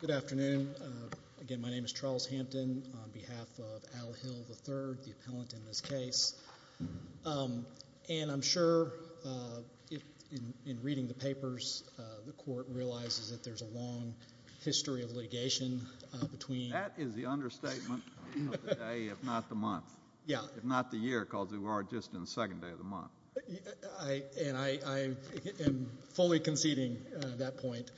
Good afternoon. My name is Charles Hampton on behalf of Al Hill, III, the appellant in this case. And I'm sure in reading the papers, the Court realizes that there's a long history of litigation between That is the understatement of the day, if not the month, if not the year, because we are just in the second day of the month. And I am fully conceding that point.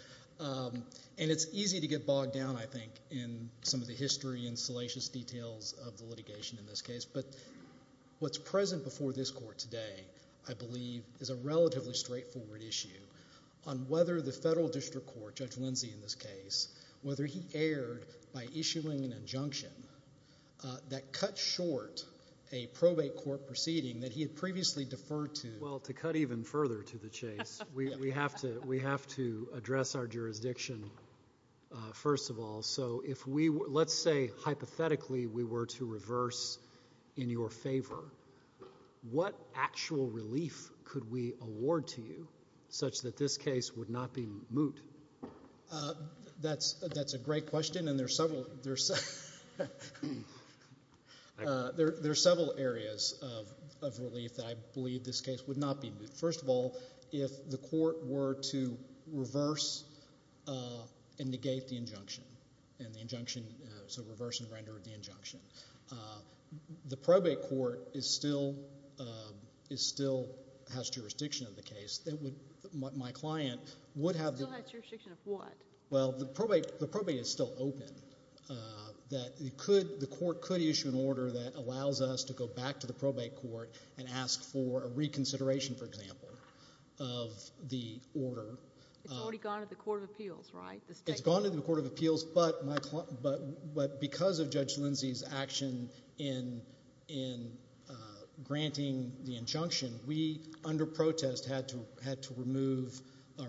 And it's easy to get bogged down, I think, in some of the history and salacious details of the litigation in this case. But what's present before this Court today, I believe, is a relatively straightforward issue on whether the federal district court, Judge Lindsey in this case, whether he erred by issuing an injunction that cut short a probate court proceeding that he had previously deferred to. Well, to cut even further to the chase, we have to address our jurisdiction first of all. So let's say hypothetically we were to reverse in your favor. What actual relief could we award to you such that this case would not be moot? That's a great question, and there are several areas of relief that I believe this case would not be moot. First of all, if the court were to reverse and negate the injunction, so reverse and render the injunction, the probate court still has jurisdiction of the case. Still has jurisdiction of what? Well, the probate is still open. The court could issue an order that allows us to go back to the probate court and ask for a reconsideration, for example, of the order. It's already gone to the Court of Appeals, right? It's gone to the Court of Appeals, but because of Judge Lindsey's action in granting the injunction, we under protest had to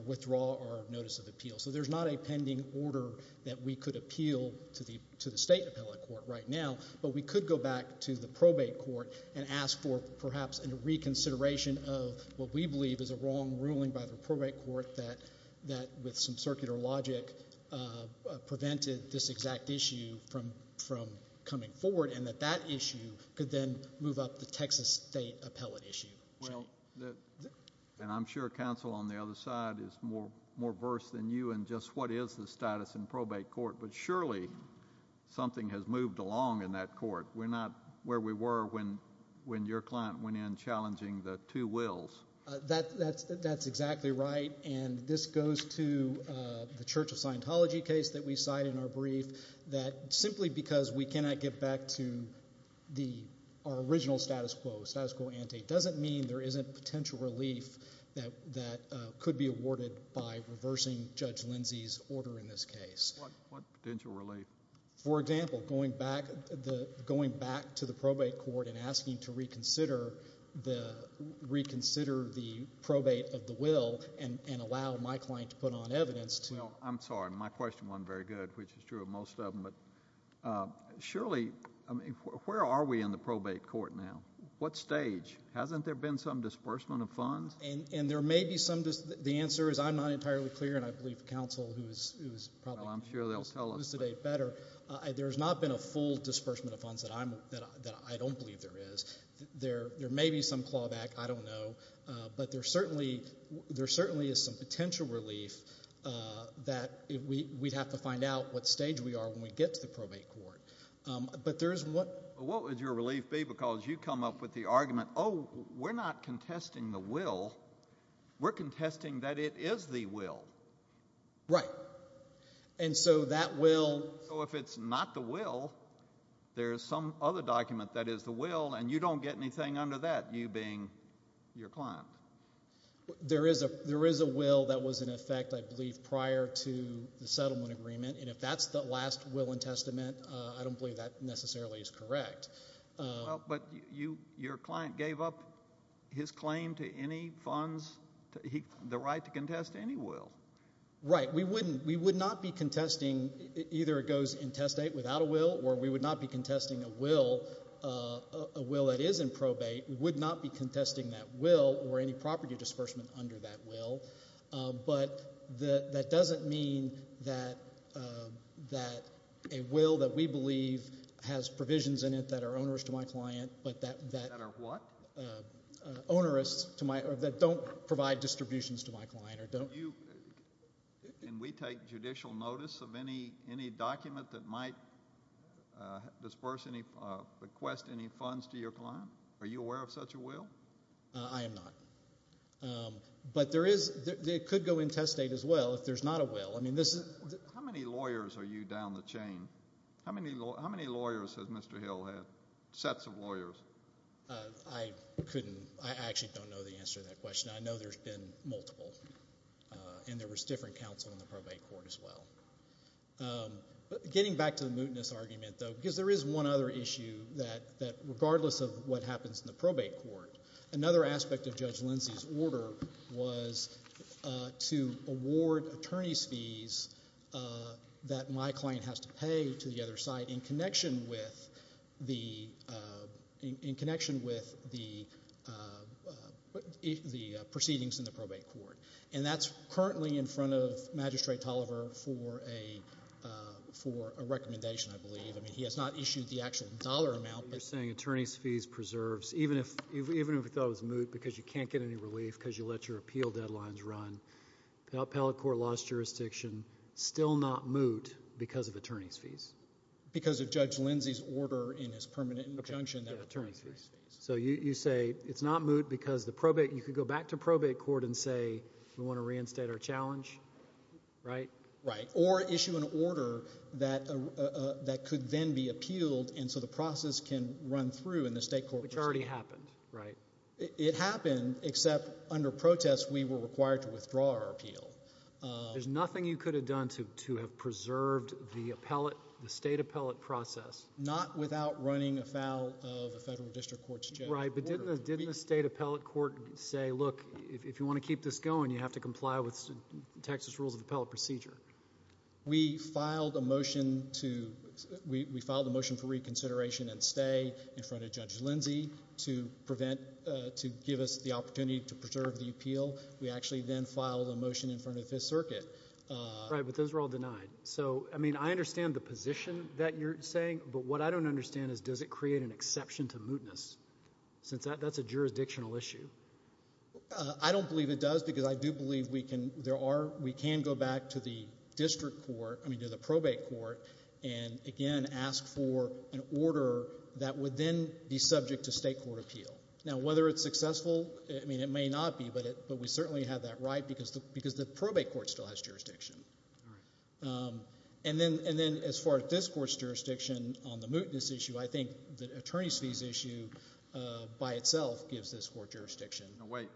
withdraw our notice of appeal. So there's not a pending order that we could appeal to the state appellate court right now, but we could go back to the probate court and ask for perhaps a reconsideration of what we believe is a wrong ruling by the probate court that with some circular logic prevented this exact issue from coming forward and that that issue could then move up the Texas state appellate issue. Well, and I'm sure counsel on the other side is more versed than you in just what is the status in probate court, but surely something has moved along in that court. We're not where we were when your client went in challenging the two wills. That's exactly right, and this goes to the Church of Scientology case that we cite in our brief that simply because we cannot get back to our original status quo, status quo ante, doesn't mean there isn't potential relief that could be awarded by reversing Judge Lindsey's order in this case. What potential relief? For example, going back to the probate court and asking to reconsider the probate of the will and allow my client to put on evidence to— I'm sorry. My question wasn't very good, which is true of most of them. But surely, I mean, where are we in the probate court now? What stage? Hasn't there been some disbursement of funds? And there may be some. The answer is I'm not entirely clear, and I believe counsel who is probably going to elucidate better. There's not been a full disbursement of funds that I don't believe there is. There may be some clawback. I don't know. But there certainly is some potential relief that we'd have to find out what stage we are when we get to the probate court. But there is— What would your relief be? Because you come up with the argument, oh, we're not contesting the will. We're contesting that it is the will. Right. And so that will— So if it's not the will, there is some other document that is the will, and you don't get anything under that, you being your client. There is a will that was in effect, I believe, prior to the settlement agreement, and if that's the last will and testament, I don't believe that necessarily is correct. But your client gave up his claim to any funds, the right to contest any will. Right. We wouldn't—we would not be contesting—either it goes in testate without a will or we would not be contesting a will that is in probate. We would not be contesting that will or any property disbursement under that will. But that doesn't mean that a will that we believe has provisions in it that are onerous to my client but that— That are what? Onerous to my—that don't provide distributions to my client or don't— Can we take judicial notice of any document that might disperse any—request any funds to your client? Are you aware of such a will? I am not. But there is—it could go in testate as well if there's not a will. I mean, this is— How many lawyers are you down the chain? How many lawyers has Mr. Hill had, sets of lawyers? I couldn't—I actually don't know the answer to that question. I know there's been multiple, and there was different counsel in the probate court as well. But getting back to the mootness argument, though, because there is one other issue that, regardless of what happens in the probate court, another aspect of Judge Lindsey's order was to award attorney's fees that my client has to pay to the other side in connection with the proceedings in the probate court. And that's currently in front of Magistrate Tolliver for a recommendation, I believe. I mean, he has not issued the actual dollar amount. You're saying attorney's fees preserves, even if you thought it was moot because you can't get any relief because you let your appeal deadlines run, the appellate court lost jurisdiction, still not moot because of attorney's fees? Because of Judge Lindsey's order in his permanent injunction that attorney's fees. So you say it's not moot because the probate—you could go back to probate court and say, we want to reinstate our challenge, right? Right, or issue an order that could then be appealed, and so the process can run through in the state court procedure. Which already happened, right? It happened, except under protest we were required to withdraw our appeal. There's nothing you could have done to have preserved the state appellate process. Not without running afoul of a federal district court's judge's order. Right, but didn't the state appellate court say, look, if you want to keep this going, you have to comply with Texas rules of appellate procedure. We filed a motion for reconsideration and stay in front of Judge Lindsey to prevent—to give us the opportunity to preserve the appeal. We actually then filed a motion in front of the Fifth Circuit. Right, but those were all denied. So, I mean, I understand the position that you're saying, but what I don't understand is does it create an exception to mootness, since that's a jurisdictional issue? I don't believe it does, because I do believe we can—there are— we can go back to the district court—I mean, to the probate court and, again, ask for an order that would then be subject to state court appeal. Now, whether it's successful, I mean, it may not be, but we certainly have that right because the probate court still has jurisdiction. All right. And then as far as this court's jurisdiction on the mootness issue, I think the attorneys' fees issue by itself gives this court jurisdiction. Now, wait,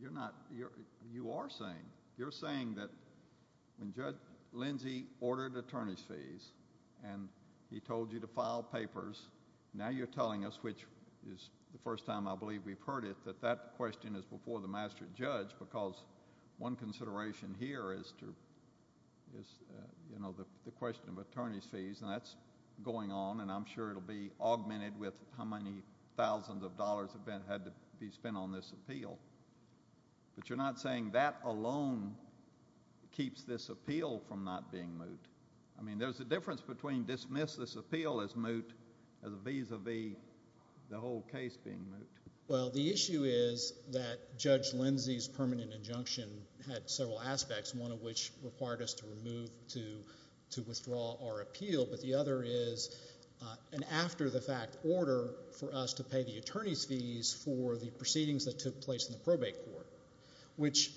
you're not—you are saying, you're saying that when Judge Lindsey ordered attorneys' fees and he told you to file papers, now you're telling us, which is the first time I believe we've heard it, that that question is before the master judge because one consideration here is to— is, you know, the question of attorneys' fees, and that's going on, and I'm sure it will be augmented with how many thousands of dollars have been—had to be spent on this appeal. But you're not saying that alone keeps this appeal from not being moot. I mean, there's a difference between dismiss this appeal as moot as vis-a-vis the whole case being moot. Well, the issue is that Judge Lindsey's permanent injunction had several aspects, one of which required us to remove—to withdraw our appeal, but the other is an after-the-fact order for us to pay the attorneys' fees for the proceedings that took place in the probate court, which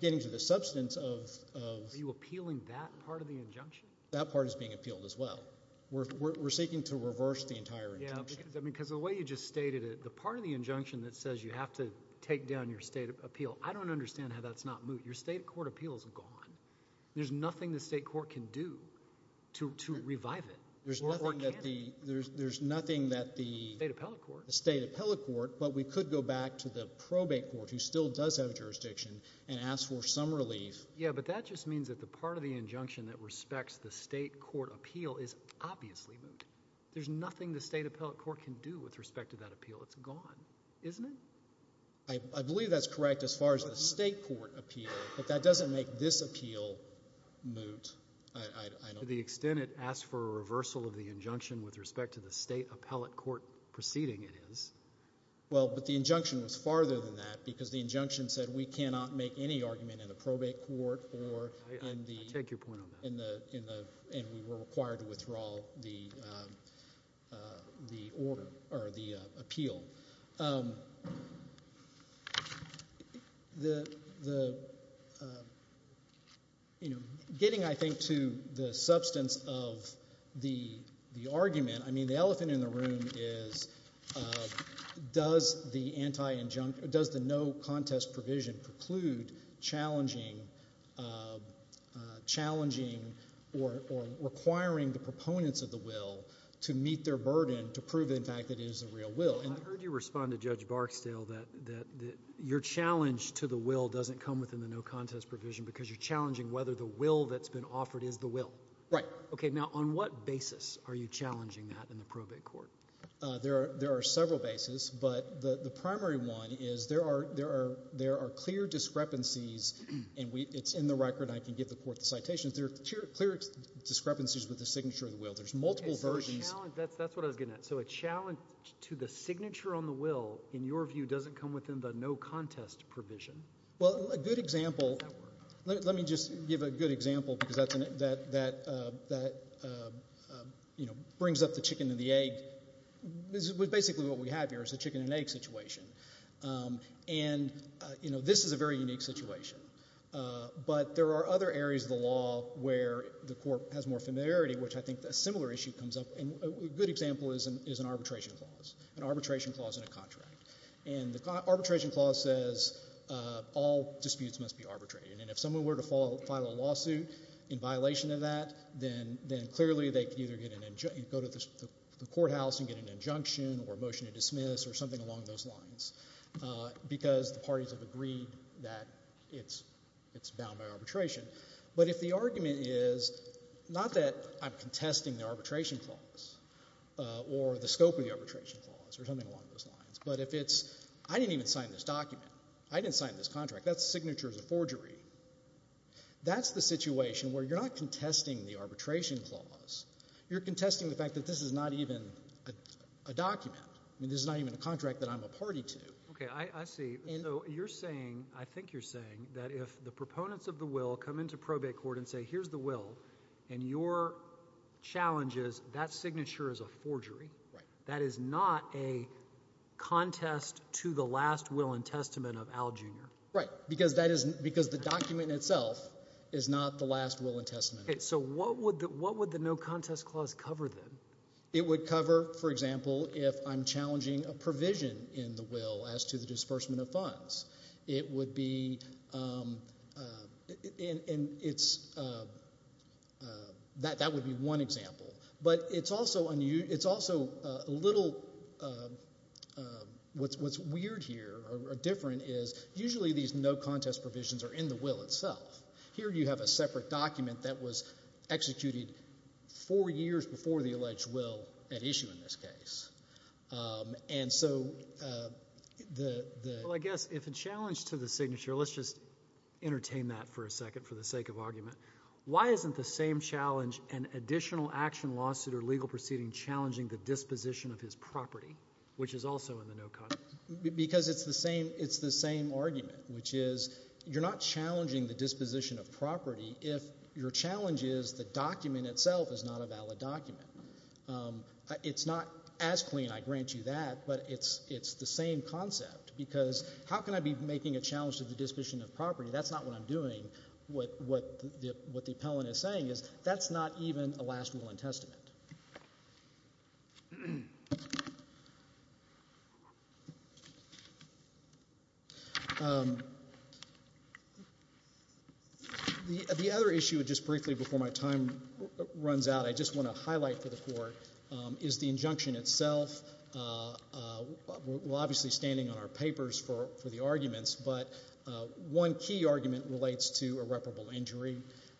getting to the substance of— Are you appealing that part of the injunction? That part is being appealed as well. We're seeking to reverse the entire injunction. Yeah, because the way you just stated it, the part of the injunction that says you have to take down your state appeal, I don't understand how that's not moot. Your state court appeal is gone. There's nothing the state court can do to revive it. There's nothing that the— State appellate court. State appellate court, but we could go back to the probate court, who still does have jurisdiction, and ask for some relief. Yeah, but that just means that the part of the injunction that respects the state court appeal is obviously moot. There's nothing the state appellate court can do with respect to that appeal. It's gone, isn't it? I believe that's correct as far as the state court appeal, but that doesn't make this appeal moot. To the extent it asks for a reversal of the injunction with respect to the state appellate court proceeding, it is. Well, but the injunction was farther than that because the injunction said we cannot make any argument in the probate court or in the— I take your point on that. And we were required to withdraw the order or the appeal. Getting, I think, to the substance of the argument, I mean the elephant in the room is does the no contest provision preclude challenging or requiring the proponents of the will to meet their burden to prove, in fact, that it is a real will? I heard you respond to Judge Barksdale that your challenge to the will doesn't come within the no contest provision because you're challenging whether the will that's been offered is the will. Right. Okay, now on what basis are you challenging that in the probate court? There are several bases, but the primary one is there are clear discrepancies, and it's in the record and I can give the court the citations. There are clear discrepancies with the signature of the will. There's multiple versions. That's what I was getting at. So a challenge to the signature on the will, in your view, doesn't come within the no contest provision? Well, a good example— Does that work? Let me just give a good example because that brings up the chicken and the egg. Basically what we have here is a chicken and egg situation. And this is a very unique situation. But there are other areas of the law where the court has more familiarity, which I think a similar issue comes up. A good example is an arbitration clause, an arbitration clause in a contract. And the arbitration clause says all disputes must be arbitrated. And if someone were to file a lawsuit in violation of that, then clearly they could either go to the courthouse and get an injunction or a motion to dismiss or something along those lines because the parties have agreed that it's bound by arbitration. But if the argument is not that I'm contesting the arbitration clause or the scope of the arbitration clause or something along those lines, but if it's I didn't even sign this document. I didn't sign this contract. That signature is a forgery. That's the situation where you're not contesting the arbitration clause. You're contesting the fact that this is not even a document. I mean, this is not even a contract that I'm a party to. Okay. I see. So you're saying, I think you're saying, that if the proponents of the will come into probate court and say here's the will and your challenge is that signature is a forgery. Right. That is not a contest to the last will and testament of Al, Jr. Right, because the document itself is not the last will and testament. So what would the no contest clause cover then? It would cover, for example, if I'm challenging a provision in the will as to the disbursement of funds. It would be, and it's, that would be one example. But it's also a little, what's weird here or different is usually these no contest provisions are in the will itself. Here you have a separate document that was executed four years before the alleged will at issue in this case. And so the. Well, I guess if a challenge to the signature, let's just entertain that for a second for the sake of argument. Why isn't the same challenge an additional action lawsuit or legal proceeding challenging the disposition of his property, which is also in the no contest? Because it's the same argument, which is you're not challenging the disposition of property if your challenge is the document itself is not a valid document. It's not as clean, I grant you that, but it's the same concept. Because how can I be making a challenge to the disposition of property? That's not what I'm doing. What the appellant is saying is that's not even a last will and testament. The other issue, just briefly before my time runs out, I just want to highlight for the court is the injunction itself. We're obviously standing on our papers for the arguments, but one key argument relates to irreparable injury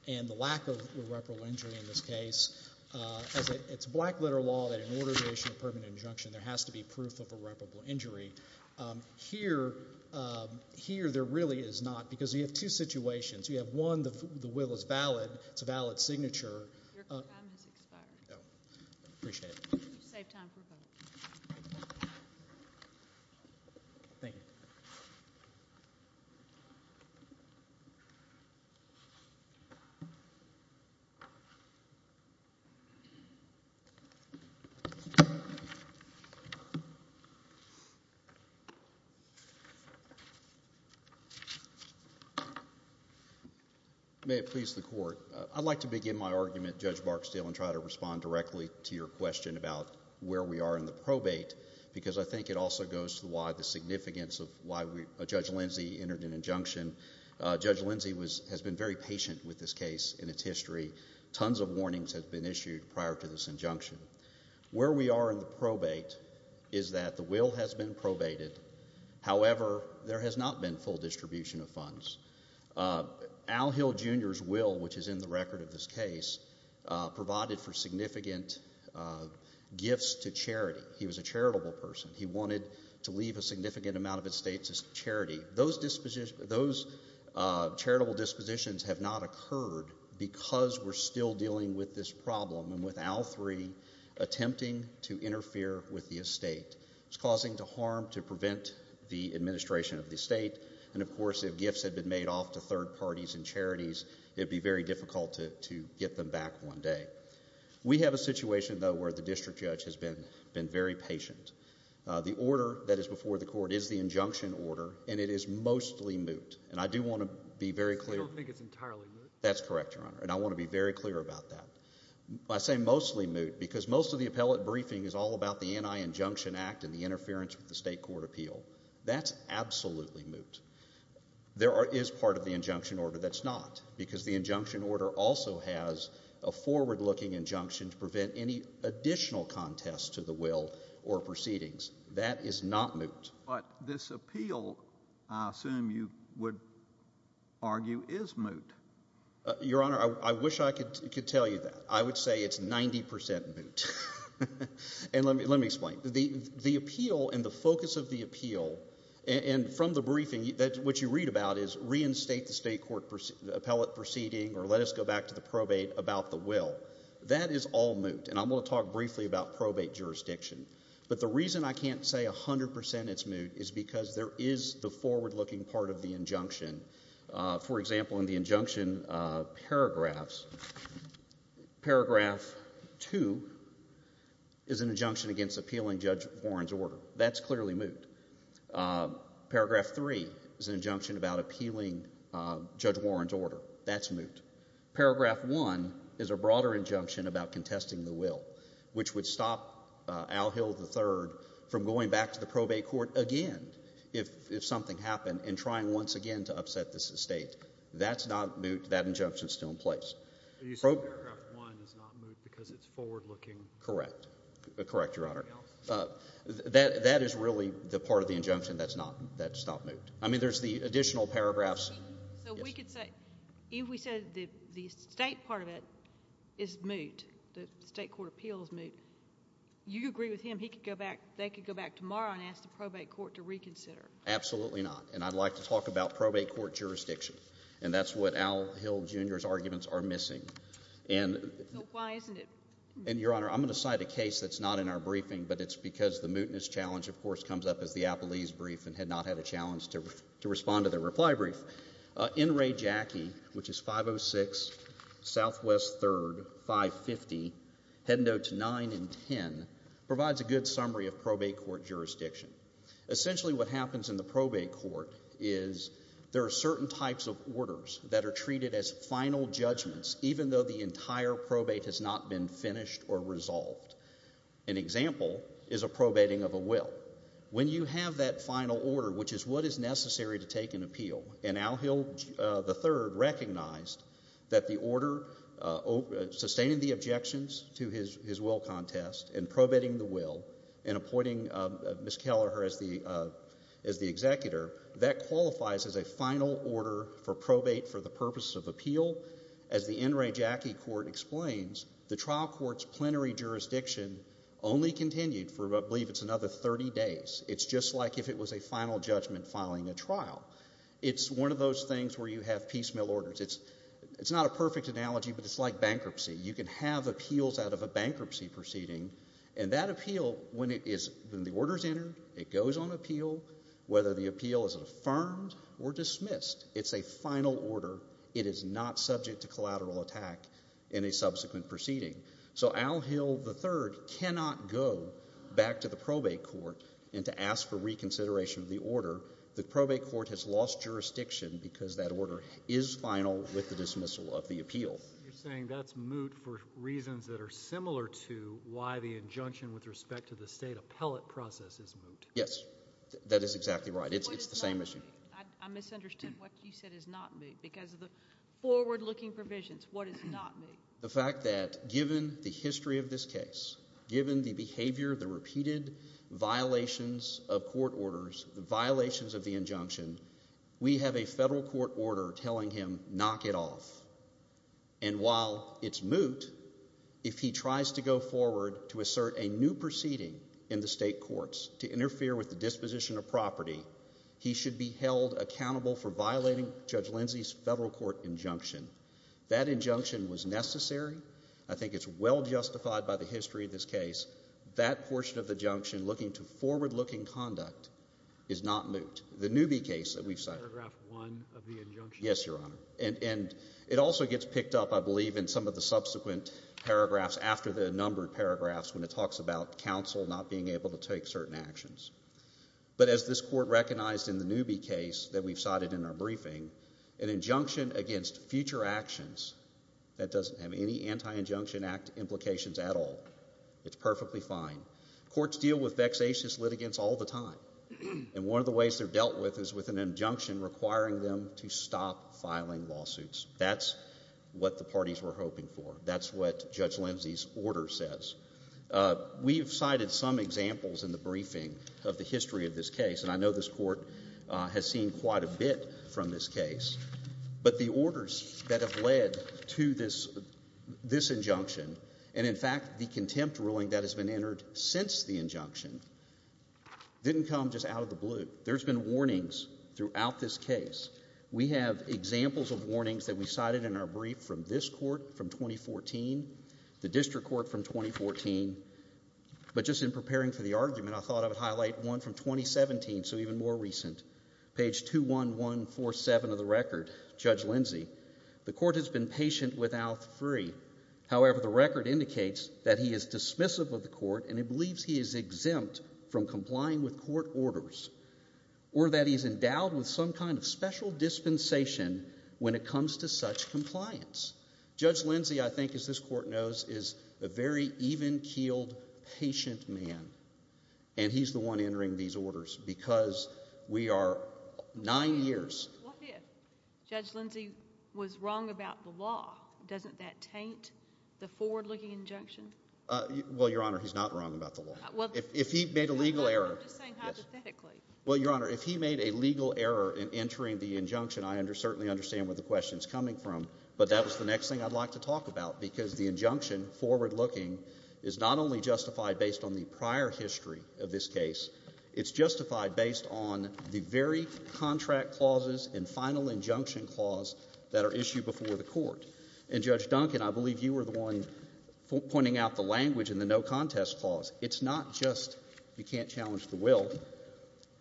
and the lack of irreparable injury in this case. It's black letter law that in order to issue a permanent injunction, there has to be proof of irreparable injury. Here there really is not because you have two situations. You have one, the will is valid. It's a valid signature. Your time has expired. I appreciate it. Thank you. May it please the court. I'd like to begin my argument, Judge Barksdale, and try to respond directly to your question about where we are in the probate because I think it also goes to the significance of why Judge Lindsey entered an injunction. Judge Lindsey has been very patient with this case and its history. Tons of warnings have been issued prior to this injunction. Where we are in the probate is that the will has been probated. However, there has not been full distribution of funds. Al Hill Jr.'s will, which is in the record of this case, provided for significant gifts to charity. He was a charitable person. He wanted to leave a significant amount of estates as charity. Those charitable dispositions have not occurred because we're still dealing with this problem and with Al III attempting to interfere with the estate. And, of course, if gifts had been made off to third parties and charities, it would be very difficult to get them back one day. We have a situation, though, where the district judge has been very patient. The order that is before the court is the injunction order, and it is mostly moot. And I do want to be very clear. I don't think it's entirely moot. That's correct, Your Honor, and I want to be very clear about that. I say mostly moot because most of the appellate briefing is all about the Anti-Injunction Act and the interference with the state court appeal. That's absolutely moot. There is part of the injunction order that's not because the injunction order also has a forward-looking injunction to prevent any additional contest to the will or proceedings. That is not moot. But this appeal, I assume you would argue, is moot. Your Honor, I wish I could tell you that. I would say it's 90 percent moot. And let me explain. The appeal and the focus of the appeal, and from the briefing, what you read about is reinstate the state court appellate proceeding or let us go back to the probate about the will. That is all moot, and I'm going to talk briefly about probate jurisdiction. But the reason I can't say 100 percent it's moot is because there is the forward-looking part of the injunction. For example, in the injunction paragraphs, paragraph 2 is an injunction against appealing Judge Warren's order. That's clearly moot. Paragraph 3 is an injunction about appealing Judge Warren's order. That's moot. Paragraph 1 is a broader injunction about contesting the will, which would stop Al Hill III from going back to the probate court again if something happened and trying once again to upset this estate. That's not moot. That injunction is still in place. You said paragraph 1 is not moot because it's forward-looking? Correct. Correct, Your Honor. That is really the part of the injunction that's not moot. I mean, there's the additional paragraphs. So we could say if we said the estate part of it is moot, the state court appeal is moot, you agree with him they could go back tomorrow and ask the probate court to reconsider? Absolutely not, and I'd like to talk about probate court jurisdiction, and that's what Al Hill Jr.'s arguments are missing. So why isn't it moot? And, Your Honor, I'm going to cite a case that's not in our briefing, but it's because the mootness challenge, of course, comes up as the Appellee's brief and had not had a challenge to respond to their reply brief. N. Ray Jackie, which is 506 Southwest 3rd, 550, heading notes 9 and 10, provides a good summary of probate court jurisdiction. Essentially what happens in the probate court is there are certain types of orders that are treated as final judgments even though the entire probate has not been finished or resolved. An example is a probating of a will. When you have that final order, which is what is necessary to take an appeal, and Al Hill III recognized that the order sustaining the objections to his will contest in probating the will and appointing Ms. Kelleher as the executor, that qualifies as a final order for probate for the purposes of appeal. As the N. Ray Jackie court explains, the trial court's plenary jurisdiction only continued for, I believe it's another 30 days. It's just like if it was a final judgment following a trial. It's one of those things where you have piecemeal orders. It's not a perfect analogy, but it's like bankruptcy. You can have appeals out of a bankruptcy proceeding, and that appeal, when the order is entered, it goes on appeal whether the appeal is affirmed or dismissed. It's a final order. It is not subject to collateral attack in a subsequent proceeding. So Al Hill III cannot go back to the probate court and to ask for reconsideration of the order. The probate court has lost jurisdiction because that order is final with the dismissal of the appeal. You're saying that's moot for reasons that are similar to why the injunction with respect to the state appellate process is moot. Yes, that is exactly right. It's the same issue. I misunderstood what you said is not moot because of the forward-looking provisions. What is not moot? The fact that given the history of this case, given the behavior, the repeated violations of court orders, the violations of the injunction, we have a federal court order telling him, knock it off. And while it's moot, if he tries to go forward to assert a new proceeding in the state courts to interfere with the disposition of property, he should be held accountable for violating Judge Lindsey's federal court injunction. That injunction was necessary. I think it's well justified by the history of this case. That portion of the injunction looking to forward-looking conduct is not moot. The Newby case that we've cited. Paragraph 1 of the injunction. Yes, Your Honor. And it also gets picked up, I believe, in some of the subsequent paragraphs after the numbered paragraphs when it talks about counsel not being able to take certain actions. But as this court recognized in the Newby case that we've cited in our briefing, an injunction against future actions that doesn't have any Anti-Injunction Act implications at all. It's perfectly fine. Courts deal with vexatious litigants all the time. And one of the ways they're dealt with is with an injunction requiring them to stop filing lawsuits. That's what the parties were hoping for. That's what Judge Lindsey's order says. We have cited some examples in the briefing of the history of this case, and I know this court has seen quite a bit from this case. But the orders that have led to this injunction, and in fact the contempt ruling that has been entered since the injunction, didn't come just out of the blue. There's been warnings throughout this case. We have examples of warnings that we cited in our brief from this court from 2014, the district court from 2014. But just in preparing for the argument, I thought I would highlight one from 2017, so even more recent. Page 21147 of the record, Judge Lindsey. The court has been patient without free. However, the record indicates that he is dismissive of the court and he believes he is exempt from complying with court orders or that he's endowed with some kind of special dispensation when it comes to such compliance. Judge Lindsey, I think, as this court knows, is a very even-keeled, patient man. And he's the one entering these orders because we are nine years. What if Judge Lindsey was wrong about the law? Doesn't that taint the forward-looking injunction? Well, Your Honor, he's not wrong about the law. If he made a legal error— I'm just saying hypothetically. Well, Your Honor, if he made a legal error in entering the injunction, I certainly understand where the question is coming from, but that was the next thing I'd like to talk about because the injunction forward-looking is not only justified based on the prior history of this case. It's justified based on the very contract clauses and final injunction clause that are issued before the court. And, Judge Duncan, I believe you were the one pointing out the language in the no-contest clause. It's not just you can't challenge the will.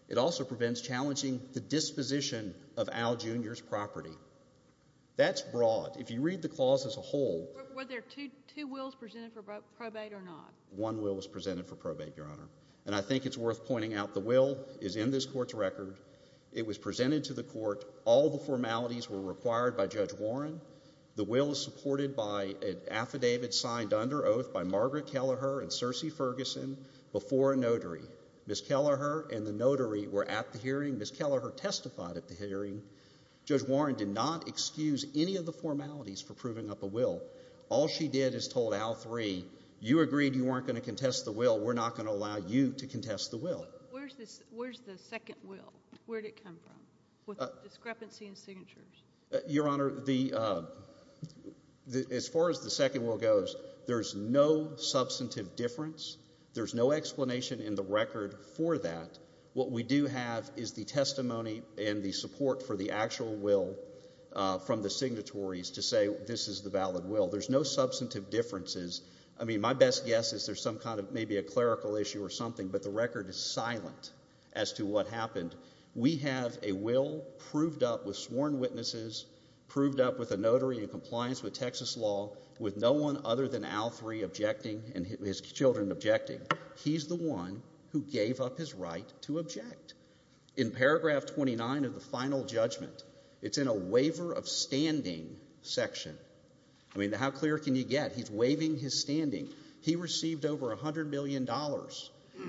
It also prevents challenging the disposition of Al Junior's property. That's broad. If you read the clause as a whole— Were there two wills presented for probate or not? One will was presented for probate, Your Honor. And I think it's worth pointing out the will is in this Court's record. It was presented to the Court. All the formalities were required by Judge Warren. The will is supported by an affidavit signed under oath by Margaret Kelleher and Cersei Ferguson before a notary. Ms. Kelleher and the notary were at the hearing. Ms. Kelleher testified at the hearing. Judge Warren did not excuse any of the formalities for proving up a will. All she did is told Al III, you agreed you weren't going to contest the will. We're not going to allow you to contest the will. Where's the second will? Where did it come from with discrepancy in signatures? Your Honor, as far as the second will goes, there's no substantive difference. There's no explanation in the record for that. What we do have is the testimony and the support for the actual will from the signatories to say this is the valid will. There's no substantive differences. I mean my best guess is there's some kind of maybe a clerical issue or something, but the record is silent as to what happened. We have a will proved up with sworn witnesses, proved up with a notary in compliance with Texas law, with no one other than Al III objecting and his children objecting. He's the one who gave up his right to object. In paragraph 29 of the final judgment, it's in a waiver of standing section. I mean how clear can you get? He's waiving his standing. He received over $100 million.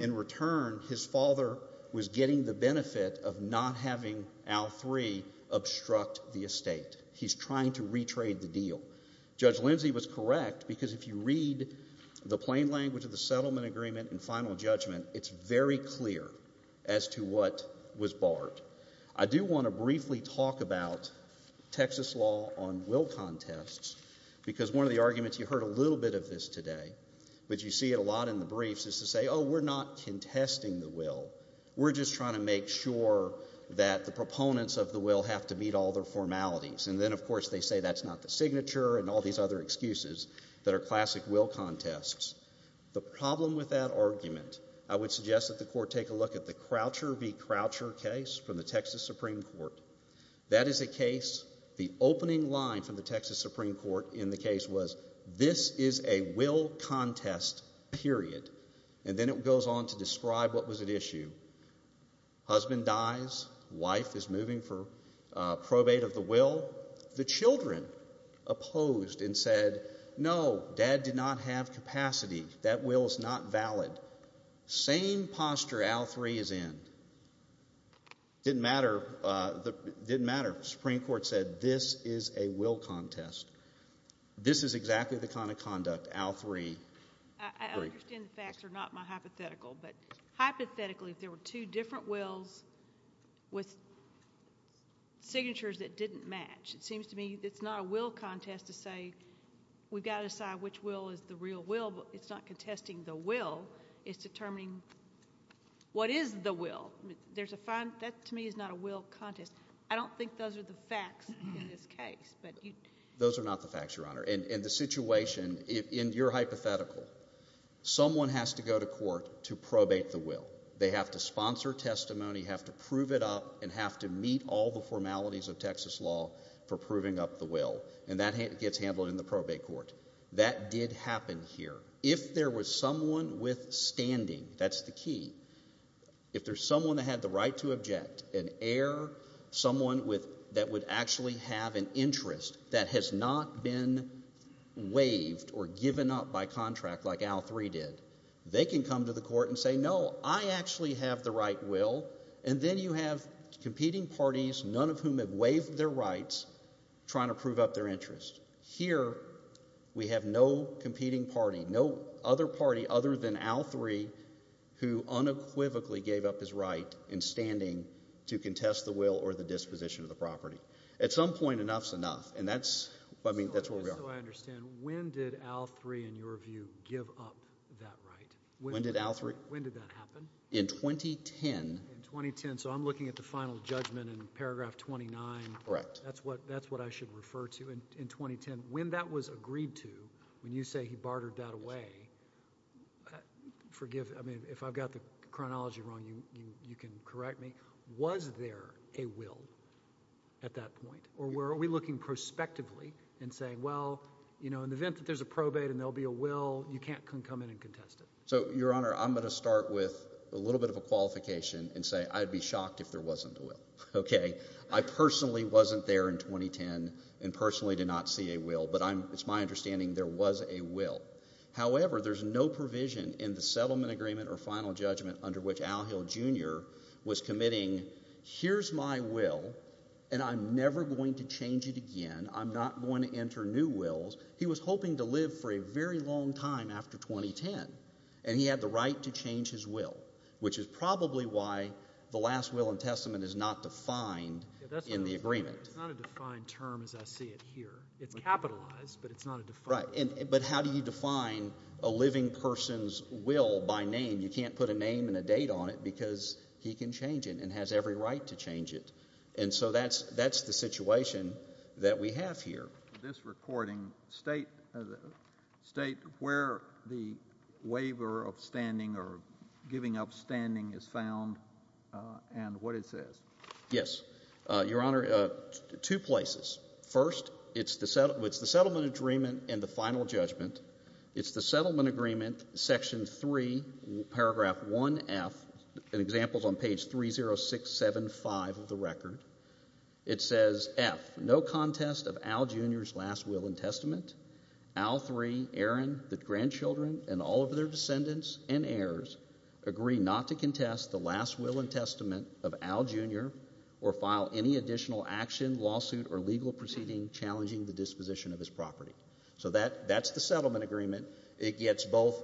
In return, his father was getting the benefit of not having Al III obstruct the estate. He's trying to retrade the deal. Judge Lindsey was correct because if you read the plain language of the settlement agreement and final judgment, it's very clear as to what was barred. I do want to briefly talk about Texas law on will contests because one of the arguments, you heard a little bit of this today, but you see it a lot in the briefs, is to say, oh, we're not contesting the will. We're just trying to make sure that the proponents of the will have to meet all their formalities. And then, of course, they say that's not the signature and all these other excuses that are classic will contests. The problem with that argument, I would suggest that the court take a look at the Croucher v. Croucher case from the Texas Supreme Court. That is a case, the opening line from the Texas Supreme Court in the case was this is a will contest, period. And then it goes on to describe what was at issue. Husband dies. Wife is moving for probate of the will. The children opposed and said, no, dad did not have capacity. That will is not valid. Same posture AL-3 is in. Didn't matter. Didn't matter. Supreme Court said this is a will contest. This is exactly the kind of conduct AL-3. I understand the facts are not my hypothetical. But hypothetically, if there were two different wills with signatures that didn't match, it seems to me it's not a will contest to say we've got to decide which will is the real will. But it's not contesting the will. It's determining what is the will. There's a fine. That to me is not a will contest. I don't think those are the facts in this case. Those are not the facts, Your Honor. And the situation in your hypothetical, someone has to go to court to probate the will. They have to sponsor testimony, have to prove it up, and have to meet all the formalities of Texas law for proving up the will. And that gets handled in the probate court. That did happen here. If there was someone with standing, that's the key. If there's someone that had the right to object, an heir, someone that would actually have an interest that has not been waived or given up by contract like AL-3 did, they can come to the court and say, no, I actually have the right will. And then you have competing parties, none of whom have waived their rights, trying to prove up their interest. Here we have no competing party, no other party other than AL-3, who unequivocally gave up his right in standing to contest the will or the disposition of the property. At some point, enough is enough, and that's where we are. So I understand. When did AL-3, in your view, give up that right? When did AL-3? When did that happen? In 2010. In 2010. So I'm looking at the final judgment in paragraph 29. Correct. That's what I should refer to. In 2010, when that was agreed to, when you say he bartered that away, forgive me. If I've got the chronology wrong, you can correct me. Was there a will at that point? Or are we looking prospectively and saying, well, in the event that there's a probate and there will be a will, you can't come in and contest it? So, Your Honor, I'm going to start with a little bit of a qualification and say I'd be shocked if there wasn't a will. Okay. I personally wasn't there in 2010 and personally did not see a will, but it's my understanding there was a will. However, there's no provision in the settlement agreement or final judgment under which Al Hill Jr. was committing, here's my will and I'm never going to change it again. I'm not going to enter new wills. He was hoping to live for a very long time after 2010, and he had the right to change his will, which is probably why the last will in Testament is not defined in the agreement. It's not a defined term as I see it here. It's capitalized, but it's not a defined term. Right, but how do you define a living person's will by name? You can't put a name and a date on it because he can change it and has every right to change it. And so that's the situation that we have here. In this recording, state where the waiver of standing or giving up standing is found and what it says. Yes. Your Honor, two places. First, it's the settlement agreement and the final judgment. It's the settlement agreement, Section 3, Paragraph 1F, and examples on page 30675 of the record. It says, F, no contest of Al, Jr.'s last will in Testament. Al III, Aaron, the grandchildren, and all of their descendants and heirs agree not to contest the last will in Testament of Al, Jr. or file any additional action, lawsuit, or legal proceeding challenging the disposition of his property. So that's the settlement agreement. It gets both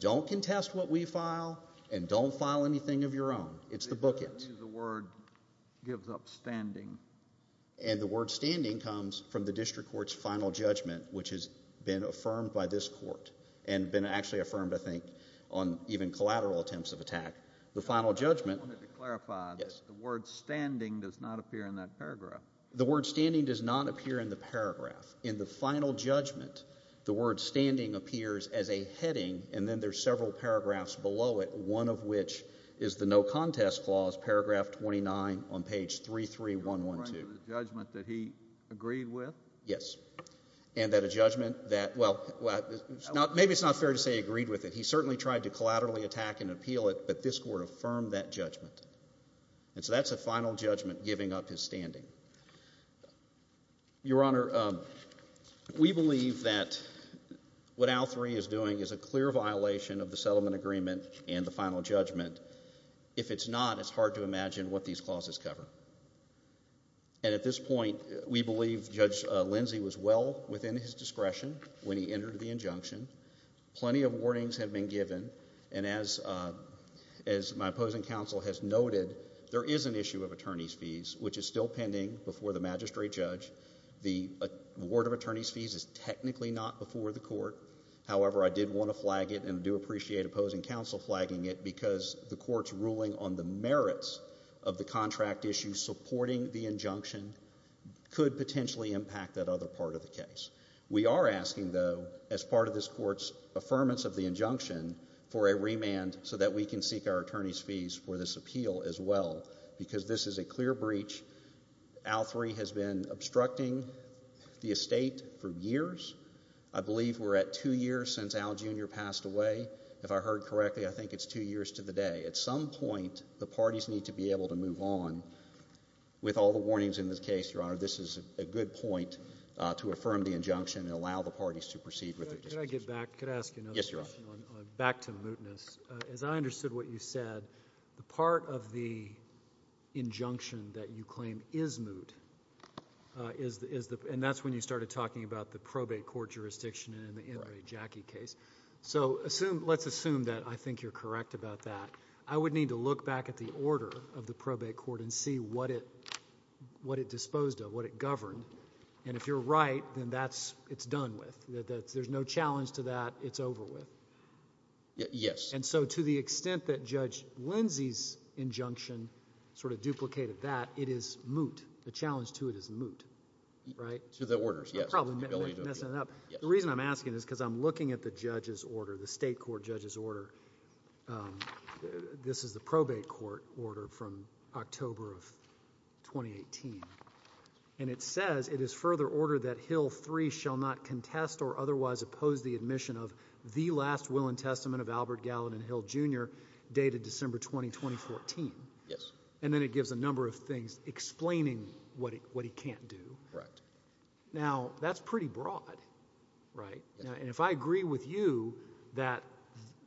don't contest what we file and don't file anything of your own. It's the bookend. The word gives up standing. And the word standing comes from the district court's final judgment, which has been affirmed by this court and been actually affirmed, I think, on even collateral attempts of attack. The final judgment. I wanted to clarify. Yes. The word standing does not appear in that paragraph. The word standing does not appear in the paragraph. In the final judgment, the word standing appears as a heading, and then there are several paragraphs below it, one of which is the no contest clause, paragraph 29 on page 33112. You're referring to the judgment that he agreed with? Yes. And that a judgment that, well, maybe it's not fair to say he agreed with it. He certainly tried to collaterally attack and appeal it, but this court affirmed that judgment. And so that's a final judgment giving up his standing. Your Honor, we believe that what Al 3 is doing is a clear violation of the settlement agreement and the final judgment. If it's not, it's hard to imagine what these clauses cover. And at this point, we believe Judge Lindsey was well within his discretion when he entered the injunction. Plenty of warnings have been given, and as my opposing counsel has noted, there is an issue of attorney's fees, which is still pending before the magistrate judge. The word of attorney's fees is technically not before the court. However, I did want to flag it and do appreciate opposing counsel flagging it because the court's ruling on the merits of the contract issue supporting the injunction could potentially impact that other part of the case. We are asking, though, as part of this court's affirmance of the injunction, for a remand so that we can seek our attorney's fees for this appeal as well because this is a clear breach. Al 3 has been obstructing the estate for years. I believe we're at two years since Al Jr. passed away. If I heard correctly, I think it's two years to the day. At some point, the parties need to be able to move on. With all the warnings in this case, Your Honor, this is a good point to affirm the injunction and allow the parties to proceed with their discussions. Could I get back? Could I ask another question? Yes, Your Honor. Back to mootness. As I understood what you said, the part of the injunction that you claim is moot, and that's when you started talking about the probate court jurisdiction in the NRA Jackie case. So let's assume that I think you're correct about that. I would need to look back at the order of the probate court and see what it disposed of, what it governed. And if you're right, then it's done with. There's no challenge to that. It's over with. Yes. And so to the extent that Judge Lindsey's injunction sort of duplicated that, it is moot. The challenge to it is moot, right? To the orders, yes. The reason I'm asking is because I'm looking at the judge's order, the state court judge's order. This is the probate court order from October of 2018, and it says it is further order that Hill III shall not contest or otherwise oppose the admission of the last will and testament of Albert Gallatin Hill Jr. dated December 20, 2014. Yes. And then it gives a number of things explaining what he can't do. Correct. Now, that's pretty broad, right? And if I agree with you that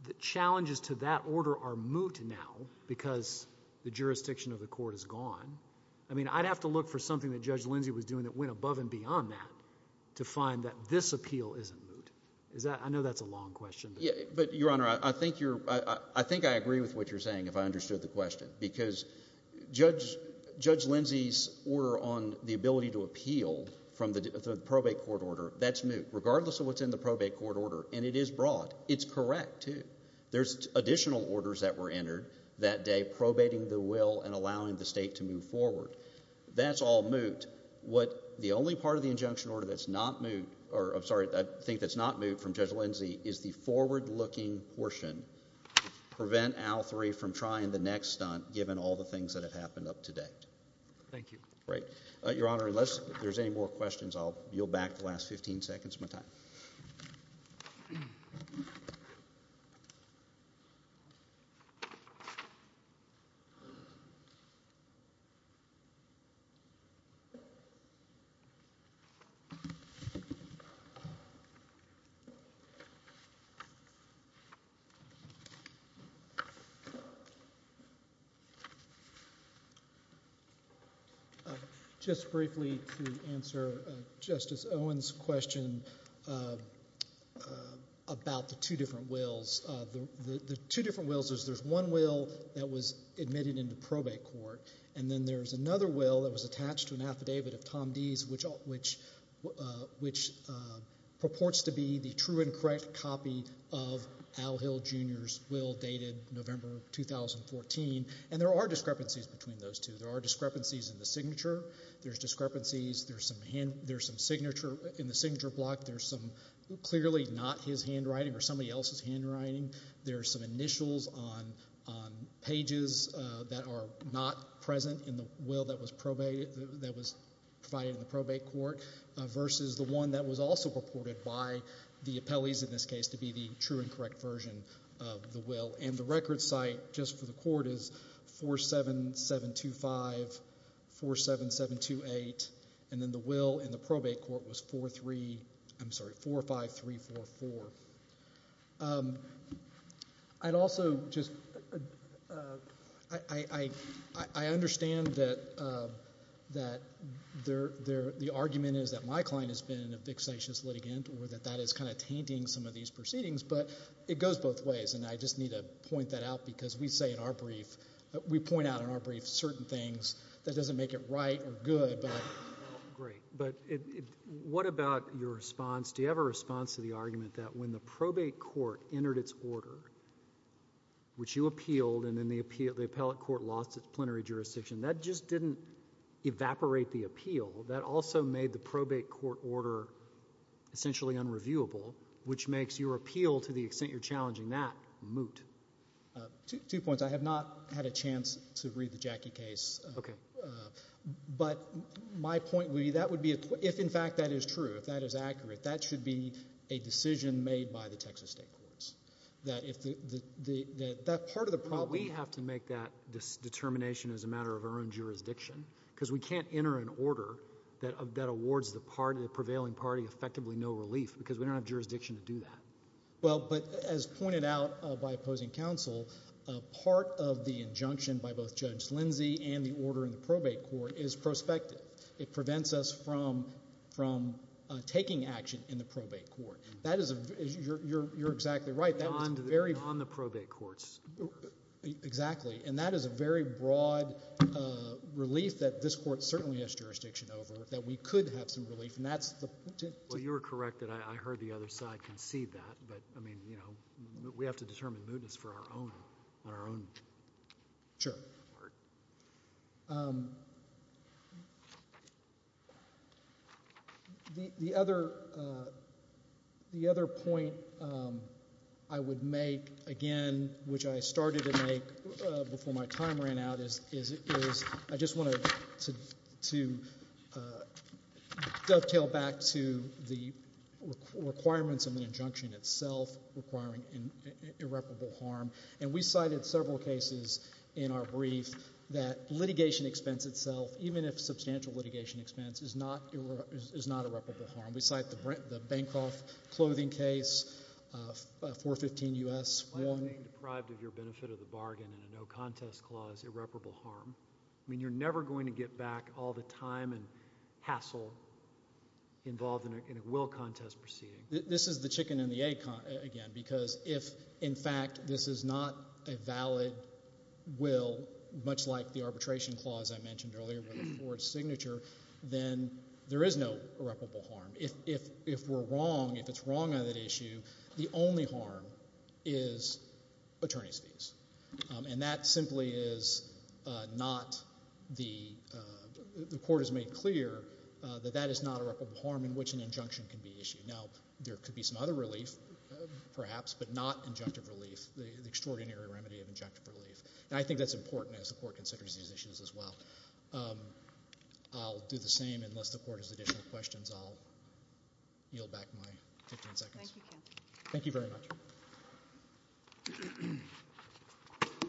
the challenges to that order are moot now because the jurisdiction of the court is gone, I mean, I'd have to look for something that Judge Lindsey was doing that went above and beyond that to find that this appeal isn't moot. I know that's a long question. But, Your Honor, I think I agree with what you're saying if I understood the question because Judge Lindsey's order on the ability to appeal from the probate court order, that's moot. Regardless of what's in the probate court order, and it is broad, it's correct too. There's additional orders that were entered that day probating the will and allowing the state to move forward. That's all moot. What the only part of the injunction order that's not moot or, I'm sorry, I think that's not moot from Judge Lindsey is the forward-looking portion to prevent Al III from trying the next stunt given all the things that have happened up to date. Thank you. Great. Your Honor, unless there's any more questions, I'll yield back the last 15 seconds of my time. Thank you. about the two different wills. The two different wills is there's one will that was admitted into probate court, and then there's another will that was attached to an affidavit of Tom Dee's, which purports to be the true and correct copy of Al Hill Jr.'s will dated November 2014. And there are discrepancies between those two. There are discrepancies in the signature. There's discrepancies. There's some signature in the signature block. There's some clearly not his handwriting or somebody else's handwriting. There are some initials on pages that are not present in the will that was provided in the probate court versus the one that was also purported by the appellees in this case to be the true and correct version of the will. And the record site just for the court is 47725, 47728, and then the will in the probate court was 45344. I'd also just – I understand that the argument is that my client has been a vexatious litigant or that that is kind of tainting some of these proceedings, but it goes both ways, and I just need to point that out because we say in our brief – we point out in our brief certain things that doesn't make it right or good, but what about your response? Do you have a response to the argument that when the probate court entered its order, which you appealed and then the appellate court lost its plenary jurisdiction, that just didn't evaporate the appeal. That also made the probate court order essentially unreviewable, which makes your appeal to the extent you're challenging that moot. Two points. I have not had a chance to read the Jackie case. Okay. But my point would be that would be – if, in fact, that is true, if that is accurate, that should be a decision made by the Texas state courts. That if the – that part of the problem – We have to make that determination as a matter of our own jurisdiction because we can't enter an order that awards the prevailing party effectively no relief because we don't have jurisdiction to do that. Well, but as pointed out by opposing counsel, part of the injunction by both Judge Lindsey and the order in the probate court is prospective. It prevents us from taking action in the probate court. That is a – you're exactly right. Beyond the probate court's order. Exactly. And that is a very broad relief that this court certainly has jurisdiction over, that we could have some relief, and that's the – Well, you were correct that I heard the other side concede that, but, I mean, you know, we have to determine mootness on our own part. Sure. The other point I would make, again, which I started to make before my time ran out, is I just wanted to dovetail back to the requirements of the injunction itself requiring irreparable harm. And we cited several cases in our brief that litigation expense itself, even if substantial litigation expense, is not irreparable harm. We cite the Bancroft clothing case, 415 U.S. 1. If you remain deprived of your benefit of the bargain in a no contest clause, irreparable harm. I mean, you're never going to get back all the time and hassle involved in a will contest proceeding. This is the chicken and the egg, again, because if, in fact, this is not a valid will, much like the arbitration clause I mentioned earlier with a forged signature, then there is no irreparable harm. If we're wrong, if it's wrong on that issue, the only harm is attorney's fees. And that simply is not the court has made clear that that is not irreparable harm in which an injunction can be issued. Now, there could be some other relief, perhaps, but not injunctive relief, the extraordinary remedy of injunctive relief. And I think that's important as the court considers these issues as well. I'll do the same unless the court has additional questions. I'll yield back my 15 seconds. Thank you. Thank you very much.